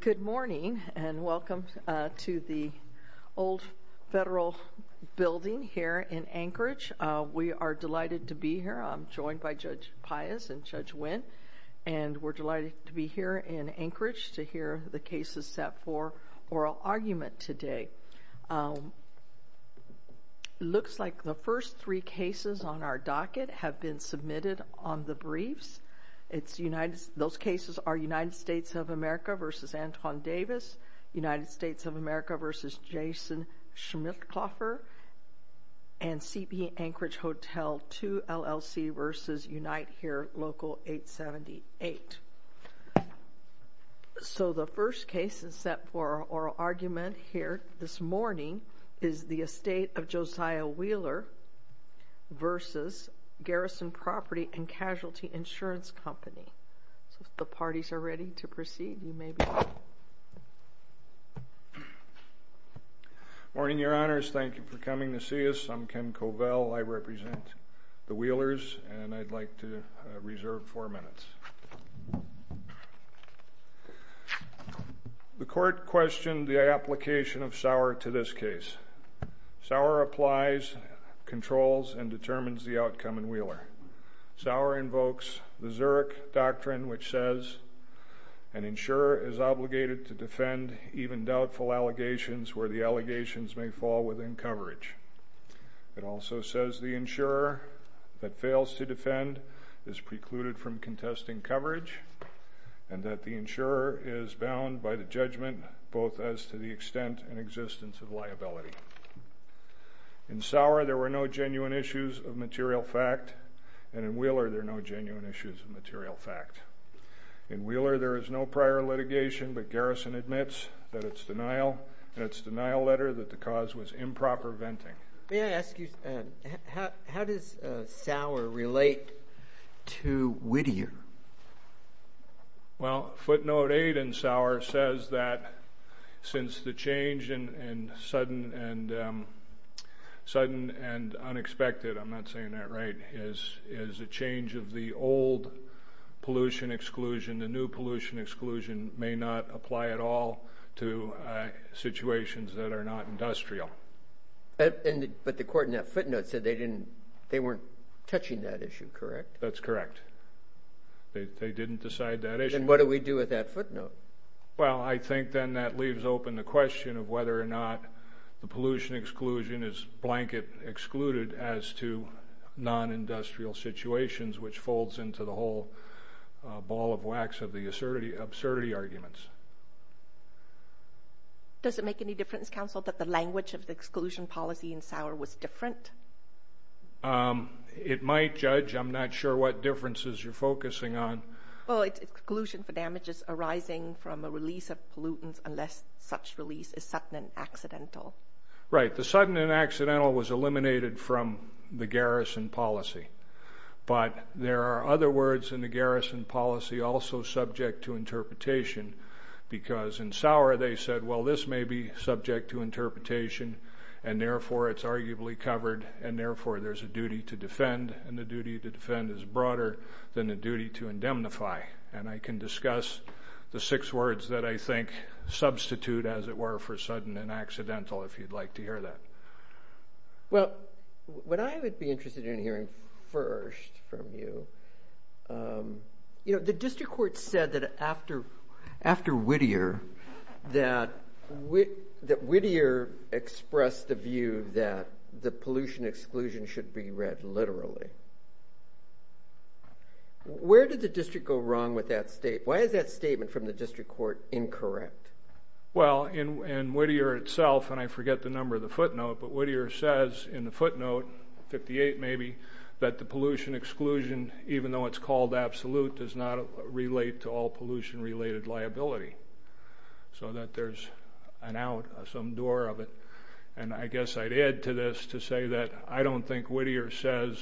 Good morning and welcome to the Old Federal Building here in Anchorage. We are delighted to be here. I'm joined by Judge Pius and Judge Winn and we're delighted to be here in Anchorage to hear the cases set for oral argument today. It looks like the first three cases on our docket have been submitted on the briefs. Those cases are United States of America v. Anton Davis, United States of America v. Jason Schmitthofer, and CB Anchorage Hotel 2 LLC v. Unite Here Local 878. The first case set for oral argument here this morning is the Estate of Josiah Wheeler v. Garrison Property and Casualty Insurance Company. If the parties are ready to proceed, you may begin. Morning, your honors. Thank you for coming to see us. I'm Ken Covell. I represent the Wheelers and I'd like to reserve four minutes. The court questioned the application of Sauer to this case. Sauer applies, controls, and determines the outcome in Wheeler. Sauer invokes the Zurich Doctrine which says an insurer is obligated to defend even doubtful allegations where the allegations may fall within coverage. It also says the insurer that fails to defend is precluded from contesting coverage and that the insurer is bound by the judgment both as to the extent and existence of liability. In Sauer there were no genuine issues of material fact and in Wheeler there are no genuine issues of material fact. In Wheeler there is no prior litigation but Garrison admits that it's denial and it's denial letter that the cause was improper venting. May I ask you, how does Sauer relate to Whittier? Well, footnote 8 in Sauer says that since the change in sudden and unexpected, I'm not saying that right, is a change of the old pollution exclusion, the new pollution exclusion may not apply at all to situations that are not industrial. But the court in that footnote said they weren't touching that issue, correct? That's correct. They didn't decide that issue. Then what do we do with that footnote? Well, I think then that leaves open the question of whether or not the pollution exclusion is blanket excluded as to non-industrial situations which folds into the whole ball of wax of the absurdity arguments. Does it make any difference, counsel, that the language of the exclusion policy in Sauer was different? It might, judge. I'm not sure what differences you're focusing on. Well, it's exclusion for damages arising from a release of pollutants unless such release is sudden and accidental. Right. The sudden and accidental was eliminated from the Garrison policy. But there are other words in the Garrison policy also subject to interpretation because in Sauer they said, well, this may be subject to interpretation and therefore it's arguably covered and therefore there's a duty to defend and the duty to defend is broader than the duty to indemnify. And I can discuss the six words that I think substitute, as it were, for sudden and accidental if you'd like to hear that. Well, what I would be interested in hearing first from you, you know, the district court said that after Whittier that Whittier expressed the view that the pollution exclusion should be read literally. Where did the district go wrong with that statement? Why is that statement from the district court incorrect? Well, in Whittier itself, and I forget the number of the footnote, but Whittier says in the footnote, 58 maybe, that the pollution exclusion, even though it's called absolute, does not relate to all pollution-related liability. So that there's an out, some door of it. And I guess I'd add to this to say that I don't think Whittier says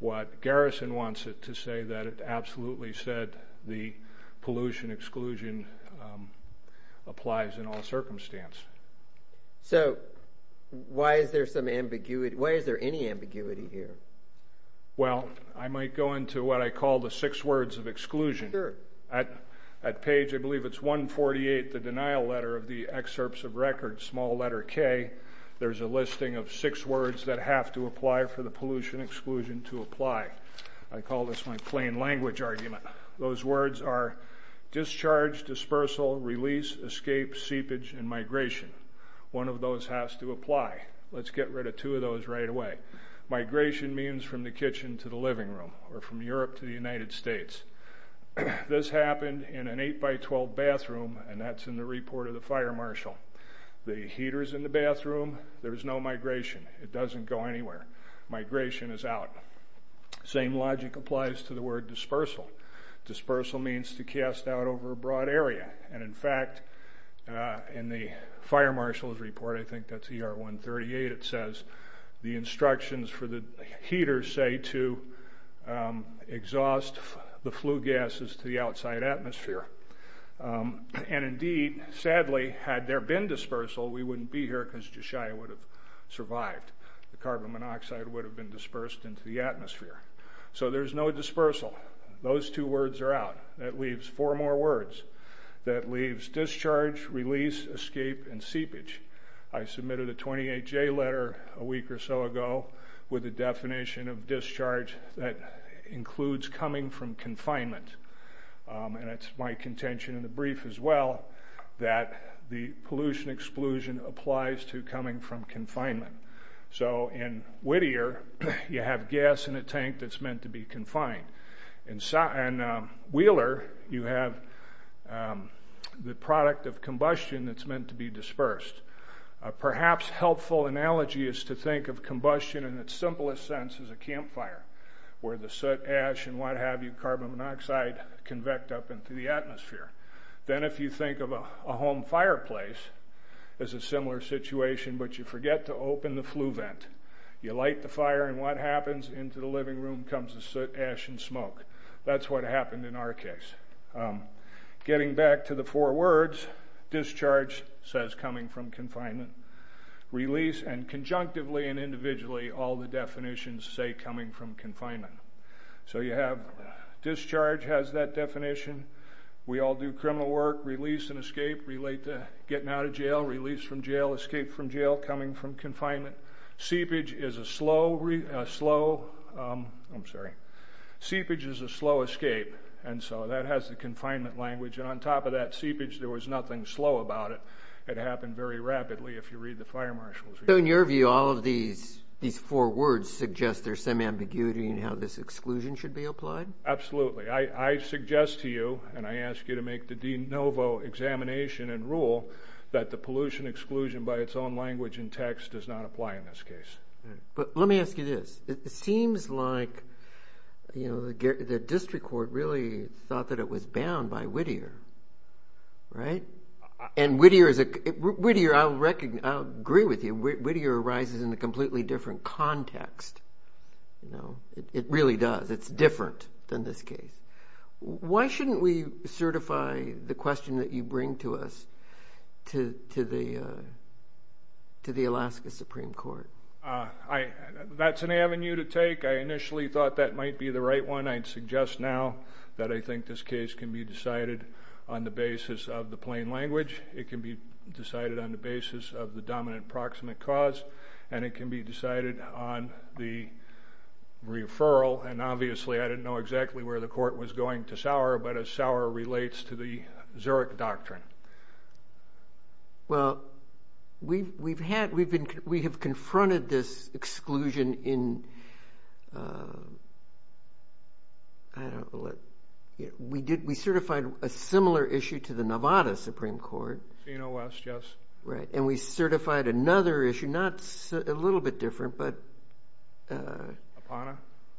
what Garrison wants it to say, that it absolutely said the pollution exclusion applies in all circumstances. So why is there some ambiguity, why is there any ambiguity here? Well, I might go into what I call the six words of exclusion. Sure. At page, I believe it's 148, the denial letter of the excerpts of records, small letter K, there's a listing of six words that have to apply for the pollution exclusion to apply. I call this my plain language argument. Those words are discharge, dispersal, release, escape, seepage, and migration. One of those has to apply. Let's get rid of two of those right away. Migration means from the kitchen to the living room or from Europe to the United States. This happened in an 8 by 12 bathroom, and that's in the report of the fire marshal. The heater's in the bathroom. There's no migration. It doesn't go anywhere. Migration is out. Same logic applies to the word dispersal. Dispersal means to cast out over a broad area. And, in fact, in the fire marshal's report, I think that's ER 138, it says the instructions for the heater say to exhaust the flue gases to the outside atmosphere. And, indeed, sadly, had there been dispersal, we wouldn't be here because Jishia would have survived. In fact, the carbon monoxide would have been dispersed into the atmosphere. So there's no dispersal. Those two words are out. That leaves four more words. That leaves discharge, release, escape, and seepage. I submitted a 28J letter a week or so ago with a definition of discharge that includes coming from confinement. And it's my contention in the brief as well that the pollution exclusion applies to coming from confinement. So in Whittier, you have gas in a tank that's meant to be confined. In Wheeler, you have the product of combustion that's meant to be dispersed. Perhaps a helpful analogy is to think of combustion in its simplest sense as a campfire, where the soot, ash, and what have you, carbon monoxide, convect up into the atmosphere. Then if you think of a home fireplace, it's a similar situation, but you forget to open the flue vent. You light the fire, and what happens? Into the living room comes the soot, ash, and smoke. That's what happened in our case. Getting back to the four words, discharge says coming from confinement. Release, and conjunctively and individually, all the definitions say coming from confinement. So you have discharge has that definition. We all do criminal work. Release and escape relate to getting out of jail. Release from jail, escape from jail, coming from confinement. Seepage is a slow escape, and so that has the confinement language. And on top of that seepage, there was nothing slow about it. It happened very rapidly if you read the fire marshals. So in your view, all of these four words suggest there's some ambiguity in how this exclusion should be applied? Absolutely. I suggest to you, and I ask you to make the de novo examination and rule, that the pollution exclusion by its own language and text does not apply in this case. But let me ask you this. It seems like the district court really thought that it was bound by Whittier, right? And Whittier, I'll agree with you, Whittier arises in a completely different context. It really does. It's different than this case. Why shouldn't we certify the question that you bring to us to the Alaska Supreme Court? That's an avenue to take. I initially thought that might be the right one. I'd suggest now that I think this case can be decided on the basis of the plain language. It can be decided on the basis of the dominant proximate cause, and it can be decided on the referral. And obviously I didn't know exactly where the court was going to Sauer, but as Sauer relates to the Zurich Doctrine. Well, we have confronted this exclusion in, I don't know, we certified a similar issue to the Nevada Supreme Court. Fino West, yes. Right, and we certified another issue, not a little bit different, but Apana.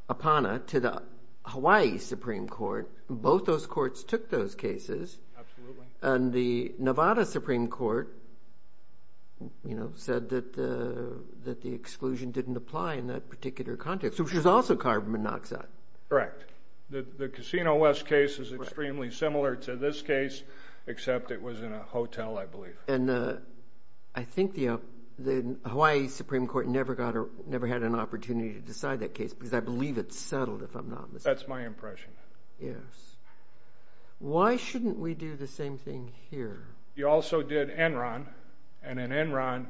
Apana, to the Hawaii Supreme Court. Both those courts took those cases. Absolutely. And the Nevada Supreme Court said that the exclusion didn't apply in that particular context, which was also carbon monoxide. Correct. The Casino West case is extremely similar to this case, except it was in a hotel, I believe. And I think the Hawaii Supreme Court never had an opportunity to decide that case, because I believe it's settled, if I'm not mistaken. That's my impression. Yes. Why shouldn't we do the same thing here? You also did Enron, and in Enron,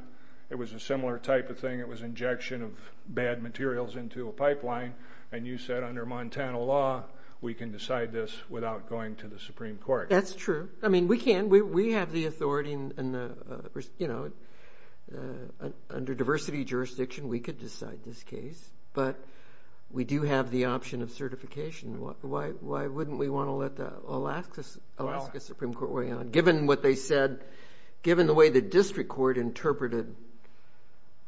it was a similar type of thing. It was injection of bad materials into a pipeline, and you said under Montana law, we can decide this without going to the Supreme Court. That's true. I mean, we can. We have the authority, and under diversity jurisdiction, we could decide this case, but we do have the option of certification. Why wouldn't we want to let the Alaska Supreme Court weigh in on it, given what they said, given the way the district court interpreted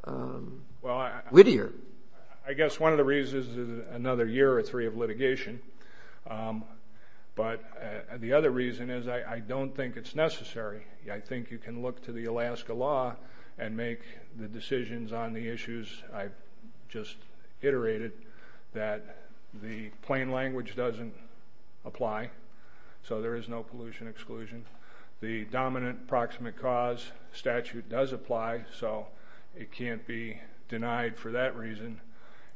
Whittier? Well, I guess one of the reasons is another year or three of litigation, but the other reason is I don't think it's necessary. I think you can look to the Alaska law and make the decisions on the issues. I just iterated that the plain language doesn't apply, so there is no pollution exclusion. The dominant proximate cause statute does apply, so it can't be denied for that reason,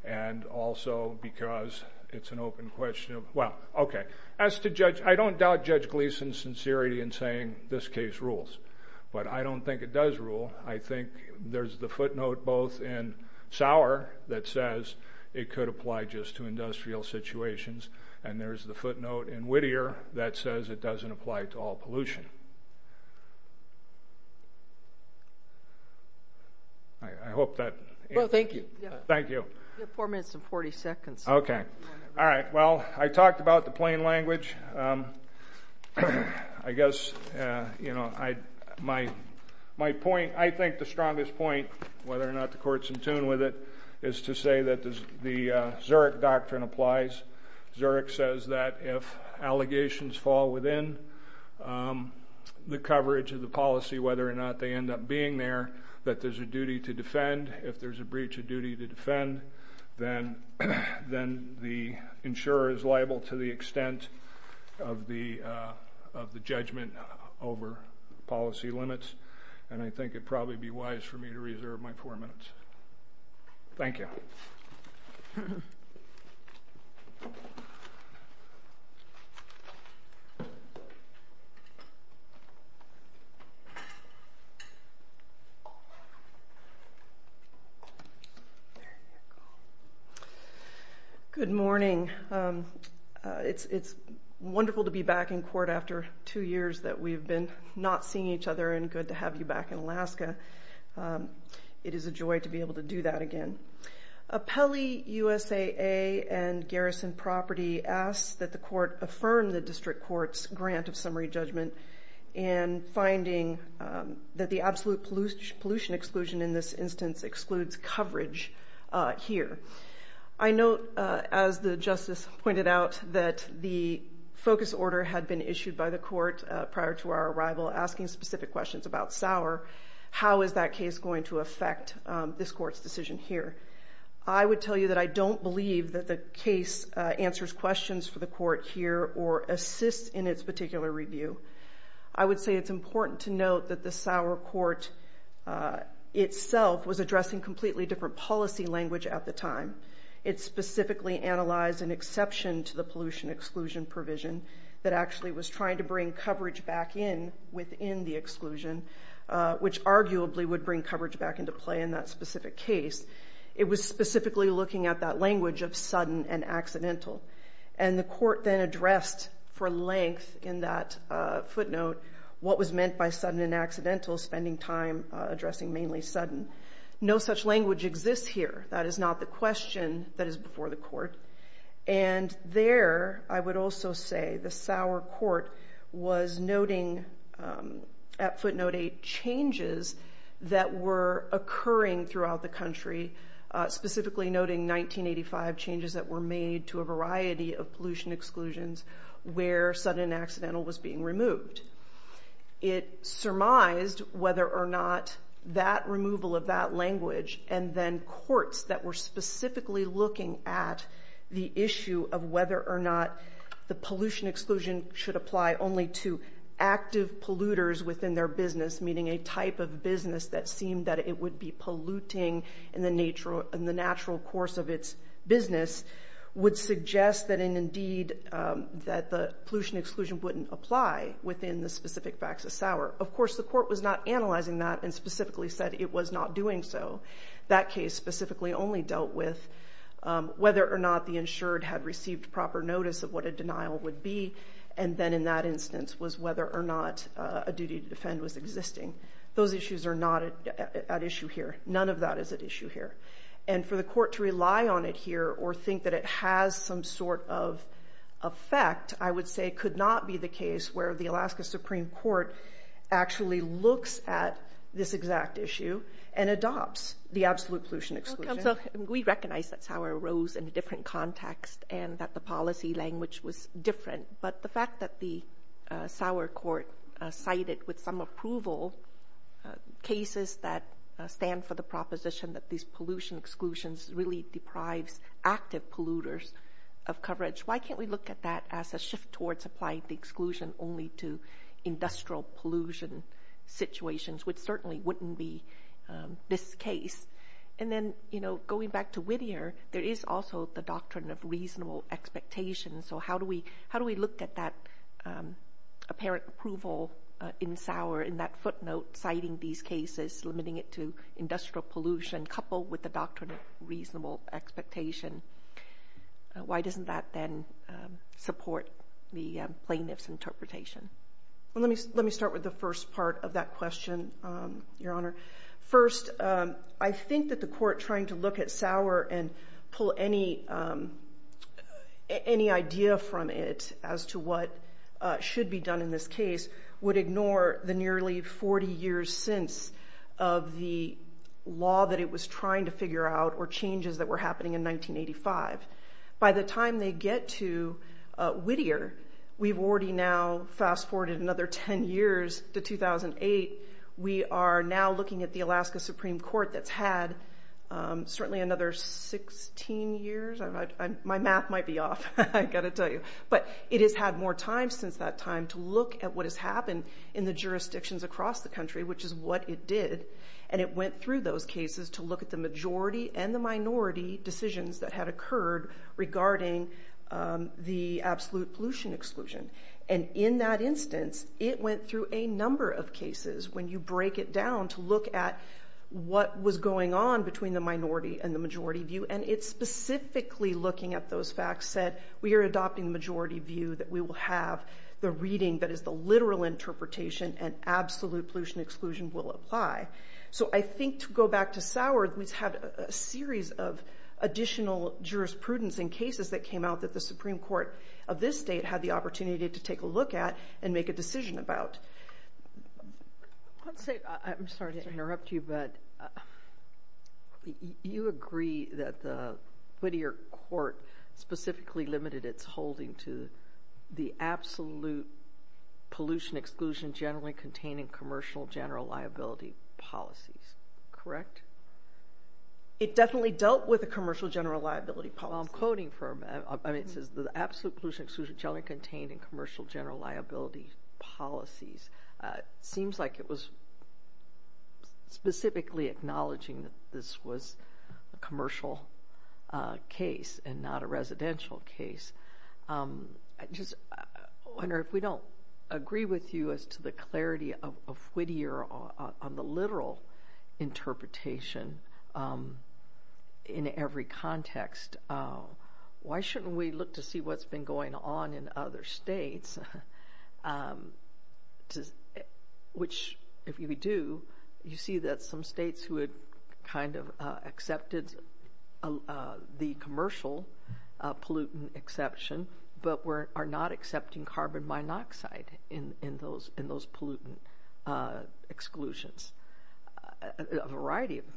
and also because it's an open question. I don't doubt Judge Gleason's sincerity in saying this case rules, but I don't think it does rule. I think there's the footnote both in Sauer that says it could apply just to industrial situations, and there's the footnote in Whittier that says it doesn't apply to all pollution. I hope that answers. Well, thank you. Thank you. You have four minutes and 40 seconds. Okay. All right. Well, I talked about the plain language. I guess, you know, my point, I think the strongest point, whether or not the court's in tune with it, is to say that the Zurich doctrine applies. Zurich says that if allegations fall within the coverage of the policy, whether or not they end up being there, that there's a duty to defend. If there's a breach of duty to defend, then the insurer is liable to the extent of the judgment over policy limits. And I think it would probably be wise for me to reserve my four minutes. Thank you. There you go. Good morning. It's wonderful to be back in court after two years that we've been not seeing each other, and good to have you back in Alaska. It is a joy to be able to do that again. Appellee USAA and Garrison Property asks that the court affirm the district court's grant of summary judgment in finding that the absolute pollution exclusion in this instance excludes coverage here. I note, as the justice pointed out, that the focus order had been issued by the court prior to our arrival asking specific questions about Sauer. How is that case going to affect this court's decision here? I would tell you that I don't believe that the case answers questions for the court here or assists in its particular review. I would say it's important to note that the Sauer court itself was addressing completely different policy language at the time. It specifically analyzed an exception to the pollution exclusion provision that actually was trying to bring coverage back in within the exclusion, which arguably would bring coverage back into play in that specific case. It was specifically looking at that language of sudden and accidental. The court then addressed for length in that footnote what was meant by sudden and accidental, spending time addressing mainly sudden. No such language exists here. That is not the question that is before the court. There, I would also say the Sauer court was noting at footnote 8 changes that were occurring throughout the country, specifically noting 1985 changes that were made to a variety of pollution exclusions where sudden and accidental was being removed. It surmised whether or not that removal of that language and then courts that were specifically looking at the issue of whether or not the pollution exclusion should apply only to active polluters within their business, meaning a type of business that seemed that it would be polluting in the natural course of its business, would suggest that the pollution exclusion wouldn't apply within the specific facts of Sauer. Of course, the court was not analyzing that and specifically said it was not doing so. That case specifically only dealt with whether or not the insured had received proper notice of what a denial would be, and then in that instance was whether or not a duty to defend was existing. Those issues are not at issue here. None of that is at issue here. For the court to rely on it here or think that it has some sort of effect, I would say it could not be the case where the Alaska Supreme Court actually looks at this exact issue and adopts the absolute pollution exclusion. We recognize that Sauer arose in a different context and that the policy language was different, but the fact that the Sauer court cited with some approval cases that stand for the proposition that these pollution exclusions really deprives active polluters of coverage, why can't we look at that as a shift towards applying the exclusion only to industrial pollution situations, which certainly wouldn't be this case? And then going back to Whittier, there is also the doctrine of reasonable expectation, so how do we look at that apparent approval in Sauer in that footnote citing these cases, limiting it to industrial pollution coupled with the doctrine of reasonable expectation? Why doesn't that then support the plaintiff's interpretation? Let me start with the first part of that question, Your Honor. First, I think that the court trying to look at Sauer and pull any idea from it as to what should be done in this case would ignore the nearly 40 years since of the law that it was trying to figure out or changes that were happening in 1985. By the time they get to Whittier, we've already now fast-forwarded another 10 years to 2008. We are now looking at the Alaska Supreme Court that's had certainly another 16 years. My math might be off, I've got to tell you, but it has had more time since that time to look at what has happened in the jurisdictions across the country, which is what it did, and it went through those cases to look at the majority and the minority decisions that had occurred regarding the absolute pollution exclusion. And in that instance, it went through a number of cases when you break it down to look at what was going on between the minority and the majority view, and it specifically looking at those facts said, we are adopting the majority view that we will have the reading that is the literal interpretation and absolute pollution exclusion will apply. So I think to go back to Sauer, we've had a series of additional jurisprudence in cases that came out that the Supreme Court of this state had the opportunity to take a look at and make a decision about. I'm sorry to interrupt you, but you agree that the Whittier Court specifically limited its holding to the absolute pollution exclusion generally contained in commercial general liability policies, correct? It definitely dealt with the commercial general liability policies. Well, I'm quoting from it. It says the absolute pollution exclusion generally contained in commercial general liability policies. It seems like it was specifically acknowledging that this was a commercial case and not a residential case. I just wonder if we don't agree with you as to the clarity of Whittier on the literal interpretation in every context. Why shouldn't we look to see what's been going on in other states, which if we do, you see that some states who had kind of accepted the commercial pollutant exception but are not accepting carbon monoxide in those pollutant exclusions? A variety of them.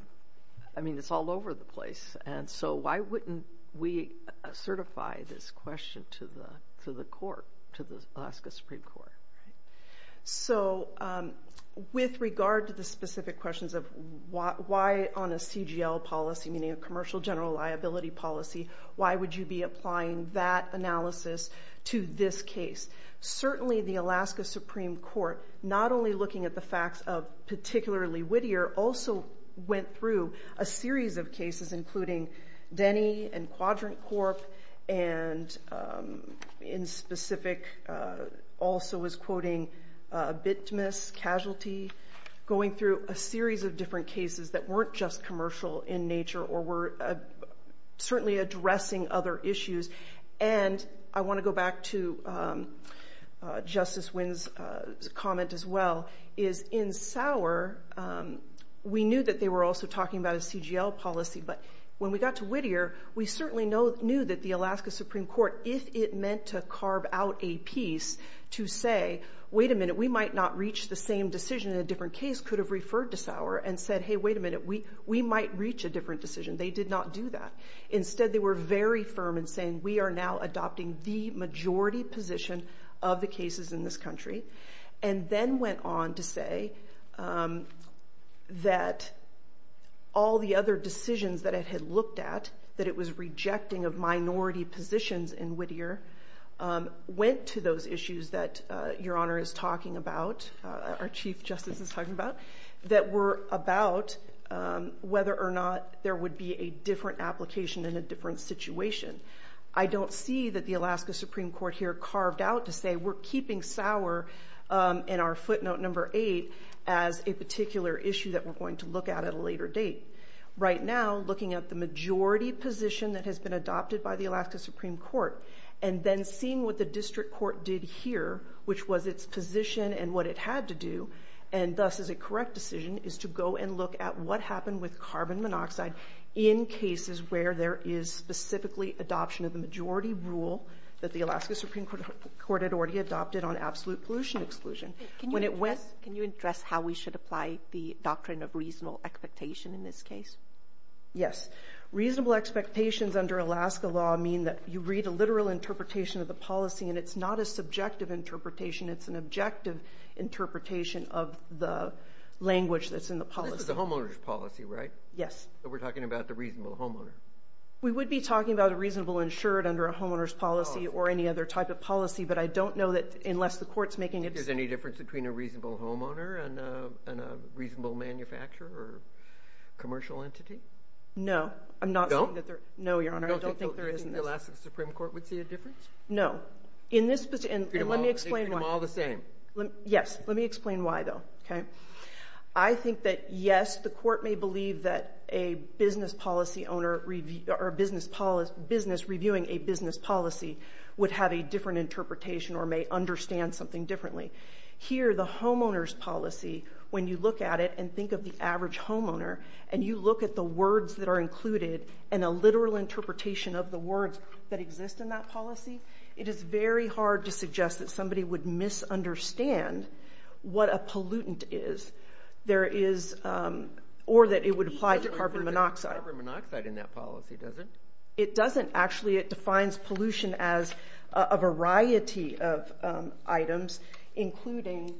I mean, it's all over the place. And so why wouldn't we certify this question to the court, to the Alaska Supreme Court? So with regard to the specific questions of why on a CGL policy, meaning a commercial general liability policy, why would you be applying that analysis to this case? Certainly the Alaska Supreme Court, not only looking at the facts of particularly Whittier, also went through a series of cases, including Denny and Quadrant Corp., and in specific also was quoting Bitmus Casualty, going through a series of different cases that weren't just commercial in nature or were certainly addressing other issues. And I want to go back to Justice Wynn's comment as well, is in Sauer we knew that they were also talking about a CGL policy, but when we got to Whittier we certainly knew that the Alaska Supreme Court, if it meant to carve out a piece to say, wait a minute, we might not reach the same decision in a different case, could have referred to Sauer and said, hey, wait a minute, we might reach a different decision. They did not do that. Instead they were very firm in saying we are now adopting the majority position of the cases in this country, and then went on to say that all the other decisions that it had looked at, that it was rejecting of minority positions in Whittier, went to those issues that Your Honor is talking about, our Chief Justice is talking about, that were about whether or not there would be a different application in a different situation. I don't see that the Alaska Supreme Court here carved out to say we're keeping Sauer in our footnote number eight as a particular issue that we're going to look at at a later date. Right now, looking at the majority position that has been adopted by the Alaska Supreme Court, and then seeing what the district court did here, which was its position and what it had to do, and thus is a correct decision, is to go and look at what happened with carbon monoxide in cases where there is specifically adoption of the majority rule that the Alaska Supreme Court had already adopted on absolute pollution exclusion. Can you address how we should apply the doctrine of reasonable expectation in this case? Yes. Reasonable expectations under Alaska law mean that you read a literal interpretation of the policy, and it's not a subjective interpretation. It's an objective interpretation of the language that's in the policy. This is the homeowner's policy, right? Yes. So we're talking about the reasonable homeowner. We would be talking about a reasonable insured under a homeowner's policy or any other type of policy, but I don't know that unless the court's making it... Do you think there's any difference between a reasonable homeowner and a reasonable manufacturer or commercial entity? No. I'm not saying that there... You don't? No, Your Honor. I don't think there is. You don't think the Alaska Supreme Court would see a difference? No. In this... Treat them all the same. Yes. Let me explain why, though. Okay? I think that, yes, the court may believe that a business policy owner or business reviewing a business policy would have a different interpretation or may understand something differently. Here, the homeowner's policy, when you look at it and think of the average homeowner and you look at the words that are included and a literal interpretation of the words that exist in that policy, it is very hard to suggest that somebody would misunderstand what a pollutant is. There is... Or that it would apply to carbon monoxide. Carbon monoxide in that policy, does it? It doesn't. It doesn't. Actually, it defines pollution as a variety of items, including...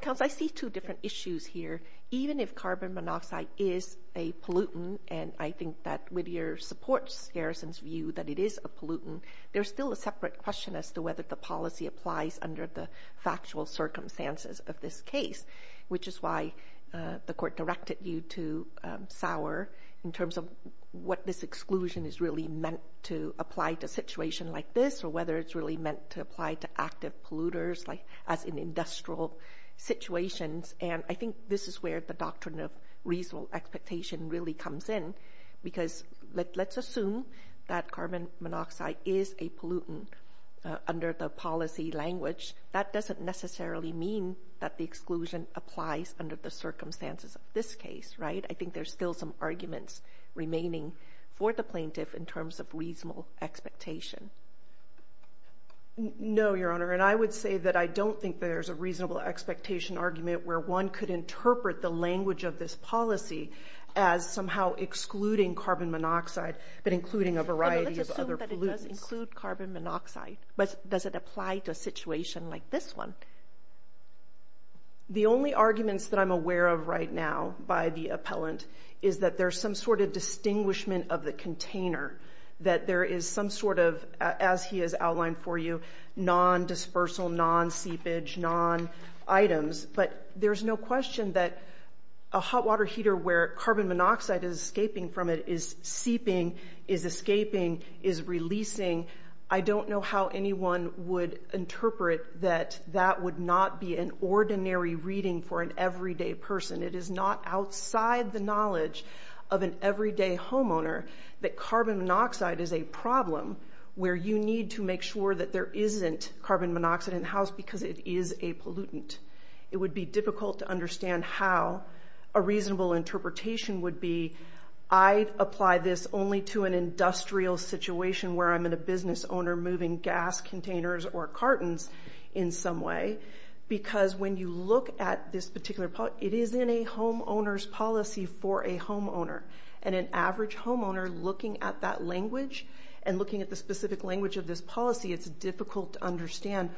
Counsel, I see two different issues here. Even if carbon monoxide is a pollutant, and I think that Whittier supports Garrison's view that it is a pollutant, there's still a separate question as to whether the policy applies under the factual circumstances of this case, which is why the court directed you to Sauer in terms of what this exclusion is really meant to apply to a situation like this or whether it's really meant to apply to active polluters as in industrial situations. And I think this is where the doctrine of reasonable expectation really comes in because let's assume that carbon monoxide is a pollutant under the policy language. That doesn't necessarily mean that the exclusion applies under the circumstances of this case, right? I think there's still some arguments remaining for the plaintiff in terms of reasonable expectation. No, Your Honor, and I would say that I don't think there's a reasonable expectation argument where one could interpret the language of this policy as somehow excluding carbon monoxide, but including a variety of other pollutants. It does include carbon monoxide, but does it apply to a situation like this one? The only arguments that I'm aware of right now by the appellant is that there's some sort of distinguishment of the container, that there is some sort of, as he has outlined for you, non-dispersal, non-seepage, non-items, but there's no question that a hot water heater where carbon monoxide is escaping from it is seeping, is escaping, is releasing. I don't know how anyone would interpret that that would not be an ordinary reading for an everyday person. It is not outside the knowledge of an everyday homeowner that carbon monoxide is a problem where you need to make sure that there isn't carbon monoxide in the house because it is a pollutant. It would be difficult to understand how a reasonable interpretation would be, I apply this only to an industrial situation where I'm in a business owner moving gas containers or cartons in some way because when you look at this particular part, it is in a homeowner's policy for a homeowner and an average homeowner looking at that language and looking at the specific language of this policy, it's difficult to understand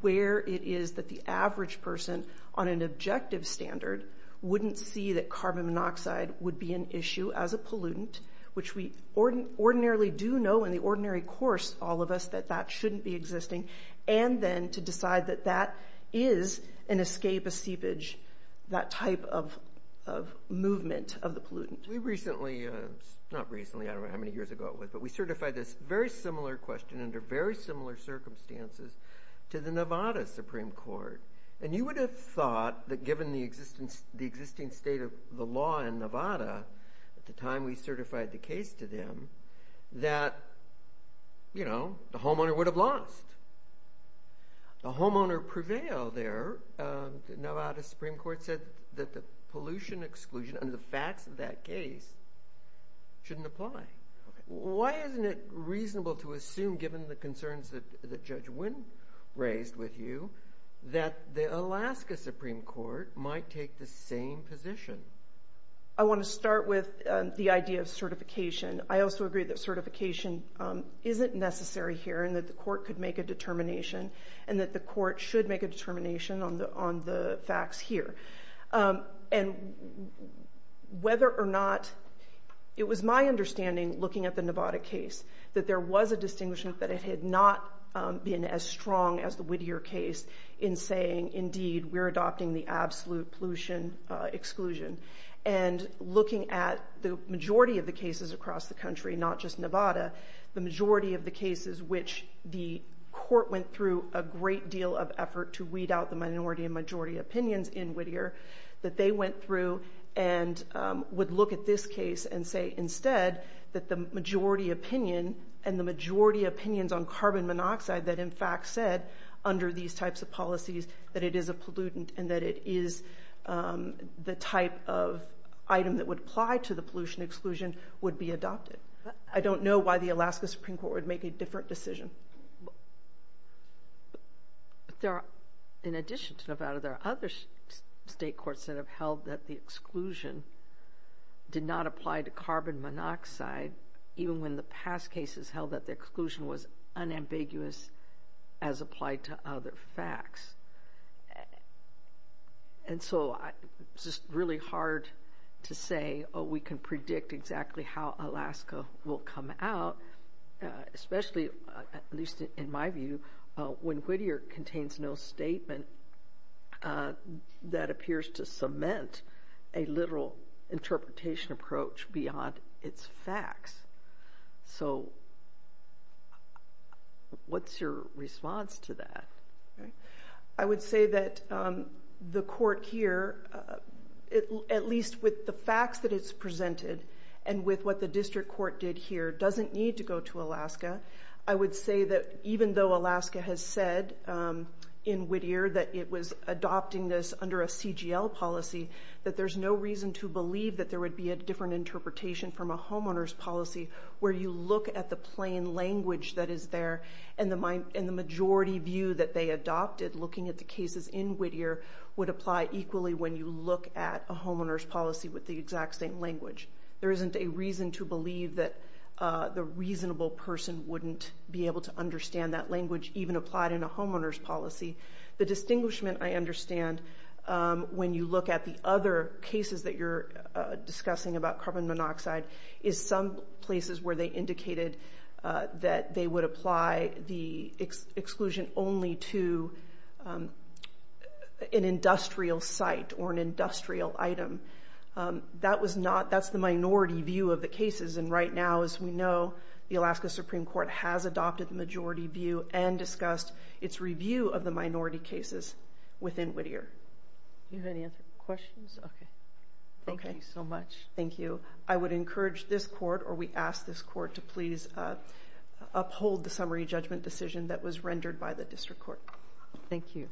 where it is that the average person on an objective standard wouldn't see that carbon monoxide would be an issue as a pollutant, which we ordinarily do know in the ordinary course, all of us, that that shouldn't be existing, and then to decide that that is an escape, a seepage, that type of movement of the pollutant. We recently, not recently, I don't know how many years ago it was, but we certified this very similar question under very similar circumstances to the Nevada Supreme Court, and you would have thought that given the existing state of the law in Nevada at the time we certified the case to them that the homeowner would have lost. The homeowner prevailed there. The Nevada Supreme Court said that the pollution exclusion under the facts of that case shouldn't apply. Why isn't it reasonable to assume, given the concerns that Judge Wynn raised with you, that the Alaska Supreme Court might take the same position? I want to start with the idea of certification. I also agree that certification isn't necessary here and that the court could make a determination and that the court should make a determination on the facts here. And whether or not, it was my understanding, looking at the Nevada case, that there was a distinguishment that it had not been as strong as the Whittier case in saying, indeed, we're adopting the absolute pollution exclusion. And looking at the majority of the cases across the country, not just Nevada, the majority of the cases which the court went through a great deal of effort to weed out the minority and majority opinions in Whittier, that they went through and would look at this case and say, instead, that the majority opinion and the majority opinions on carbon monoxide that, in fact, said under these types of policies that it is a pollutant and that it is the type of item that would apply to the pollution exclusion would be adopted. I don't know why the Alaska Supreme Court would make a different decision. I mean, in addition to Nevada, there are other state courts that have held that the exclusion did not apply to carbon monoxide, even when the past cases held that the exclusion was unambiguous as applied to other facts. And so it's just really hard to say, oh, we can predict exactly how Alaska will come out, especially, at least in my view, when Whittier contains no statement that appears to cement a literal interpretation approach beyond its facts. So what's your response to that? I would say that the court here, at least with the facts that it's presented and with what the district court did here, doesn't need to go to Alaska. I would say that even though Alaska has said in Whittier that it was adopting this under a CGL policy, that there's no reason to believe that there would be a different interpretation from a homeowner's policy where you look at the plain language that is there and the majority view that they adopted looking at the cases in Whittier would apply equally when you look at a homeowner's policy with the exact same language. There isn't a reason to believe that the reasonable person wouldn't be able to understand that language even applied in a homeowner's policy. The distinguishment I understand when you look at the other cases that you're discussing about carbon monoxide is some places where they indicated that they would apply the exclusion only to an industrial site or an industrial item. That's the minority view of the cases and right now, as we know, the Alaska Supreme Court has adopted the majority view and discussed its review of the minority cases within Whittier. Do you have any other questions? Okay. Thank you so much. Thank you. I would encourage this court or we ask this court to please uphold the summary judgment decision that was rendered by the district court. Thank you.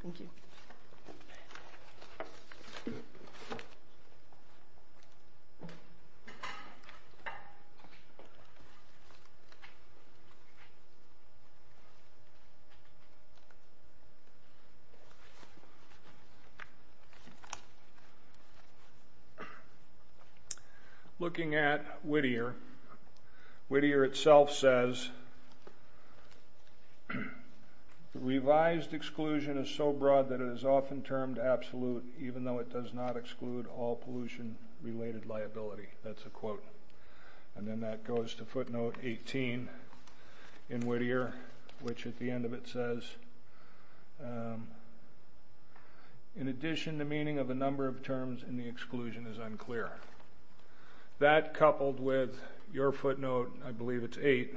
Looking at Whittier, Whittier itself says, revised exclusion is so broad that it is often termed absolute even though it does not exclude all pollution-related liability. That's a quote and then that goes to footnote 18 in Whittier, which at the end of it says, in addition, the meaning of a number of terms in the exclusion is unclear. That coupled with your footnote, I believe it's 8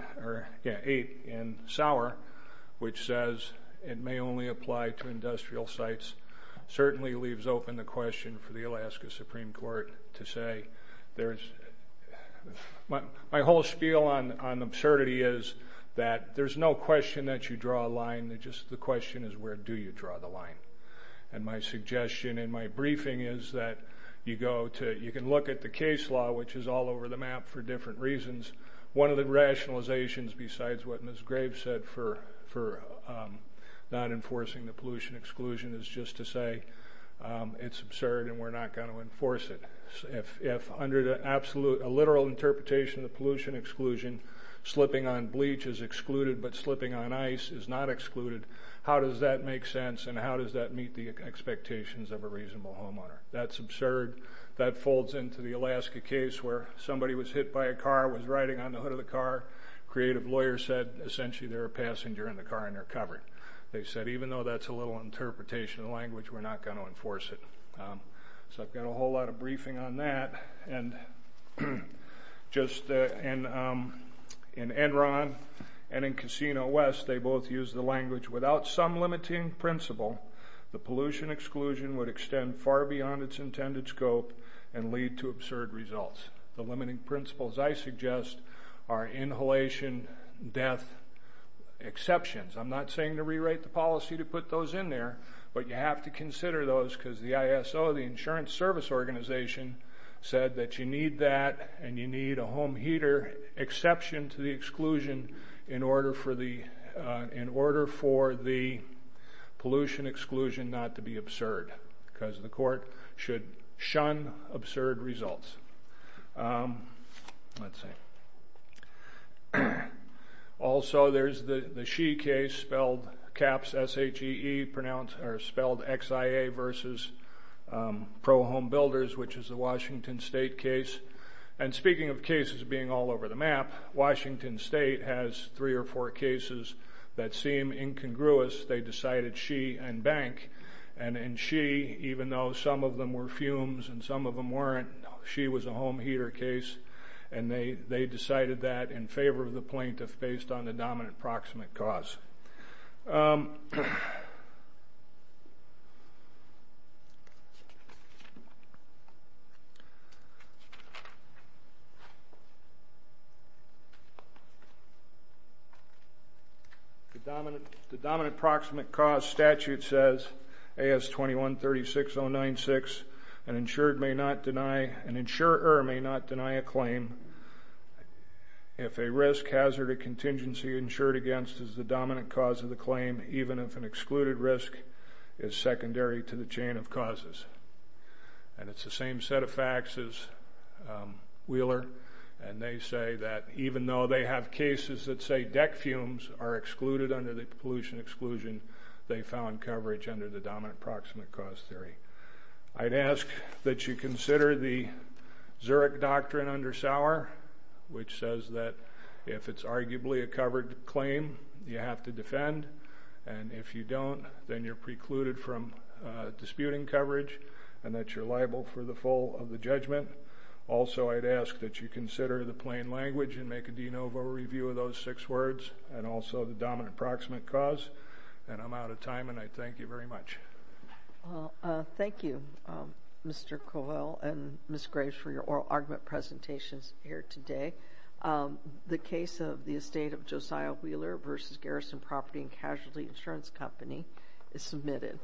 in Sauer, which says it may only apply to industrial sites, certainly leaves open the question for the Alaska Supreme Court to say. My whole spiel on absurdity is that there's no question that you draw a line, just the question is where do you draw the line. And my suggestion in my briefing is that you can look at the case law, which is all over the map for different reasons. One of the rationalizations besides what Ms. Graves said for not enforcing the pollution exclusion is just to say it's absurd and we're not going to enforce it. If under a literal interpretation of the pollution exclusion, slipping on bleach is excluded but slipping on ice is not excluded, how does that make sense and how does that meet the expectations of a reasonable homeowner? That's absurd. That folds into the Alaska case where somebody was hit by a car, was riding on the hood of the car, creative lawyer said, essentially they're a passenger in the car and they're covered. They said even though that's a little interpretation of the language, we're not going to enforce it. So I've got a whole lot of briefing on that. And just in Enron and in Casino West, they both used the language, without some limiting principle, the pollution exclusion would extend far beyond its intended scope and lead to absurd results. The limiting principles, I suggest, are inhalation, death, exceptions. I'm not saying to rewrite the policy to put those in there, but you have to consider those because the ISO, the Insurance Service Organization, said that you need that and you need a home heater exception to the exclusion in order for the pollution exclusion not to be absurd because the court should shun absurd results. Let's see. Also there's the SHE case spelled XIA versus Pro Home Builders, which is a Washington State case. And speaking of cases being all over the map, Washington State has three or four cases that seem incongruous. They decided SHE and Bank. And in SHE, even though some of them were fumes and some of them weren't, SHE was a home heater case, and they decided that in favor of the plaintiff based on the dominant proximate cause. The dominant proximate cause statute says, AS 21-36096, an insurer may not deny a claim if a risk, hazard, or contingency insured against is the dominant cause of the claim, even if an excluded risk is secondary to the chain of causes. And it's the same set of facts as Wheeler, and they say that even though they have cases that say deck fumes are excluded under the pollution exclusion, they found coverage under the dominant proximate cause theory. I'd ask that you consider the Zurich Doctrine under Sauer, which says that if it's arguably a covered claim, you have to defend. And if you don't, then you're precluded from disputing coverage and that you're liable for the full of the judgment. Also I'd ask that you consider the plain language and make a de novo review of those six words and also the dominant proximate cause. And I'm out of time, and I thank you very much. Well, thank you, Mr. Covell and Ms. Graves, for your oral argument presentations here today. The case of the estate of Josiah Wheeler v. Garrison Property and Casualty Insurance Company is submitted.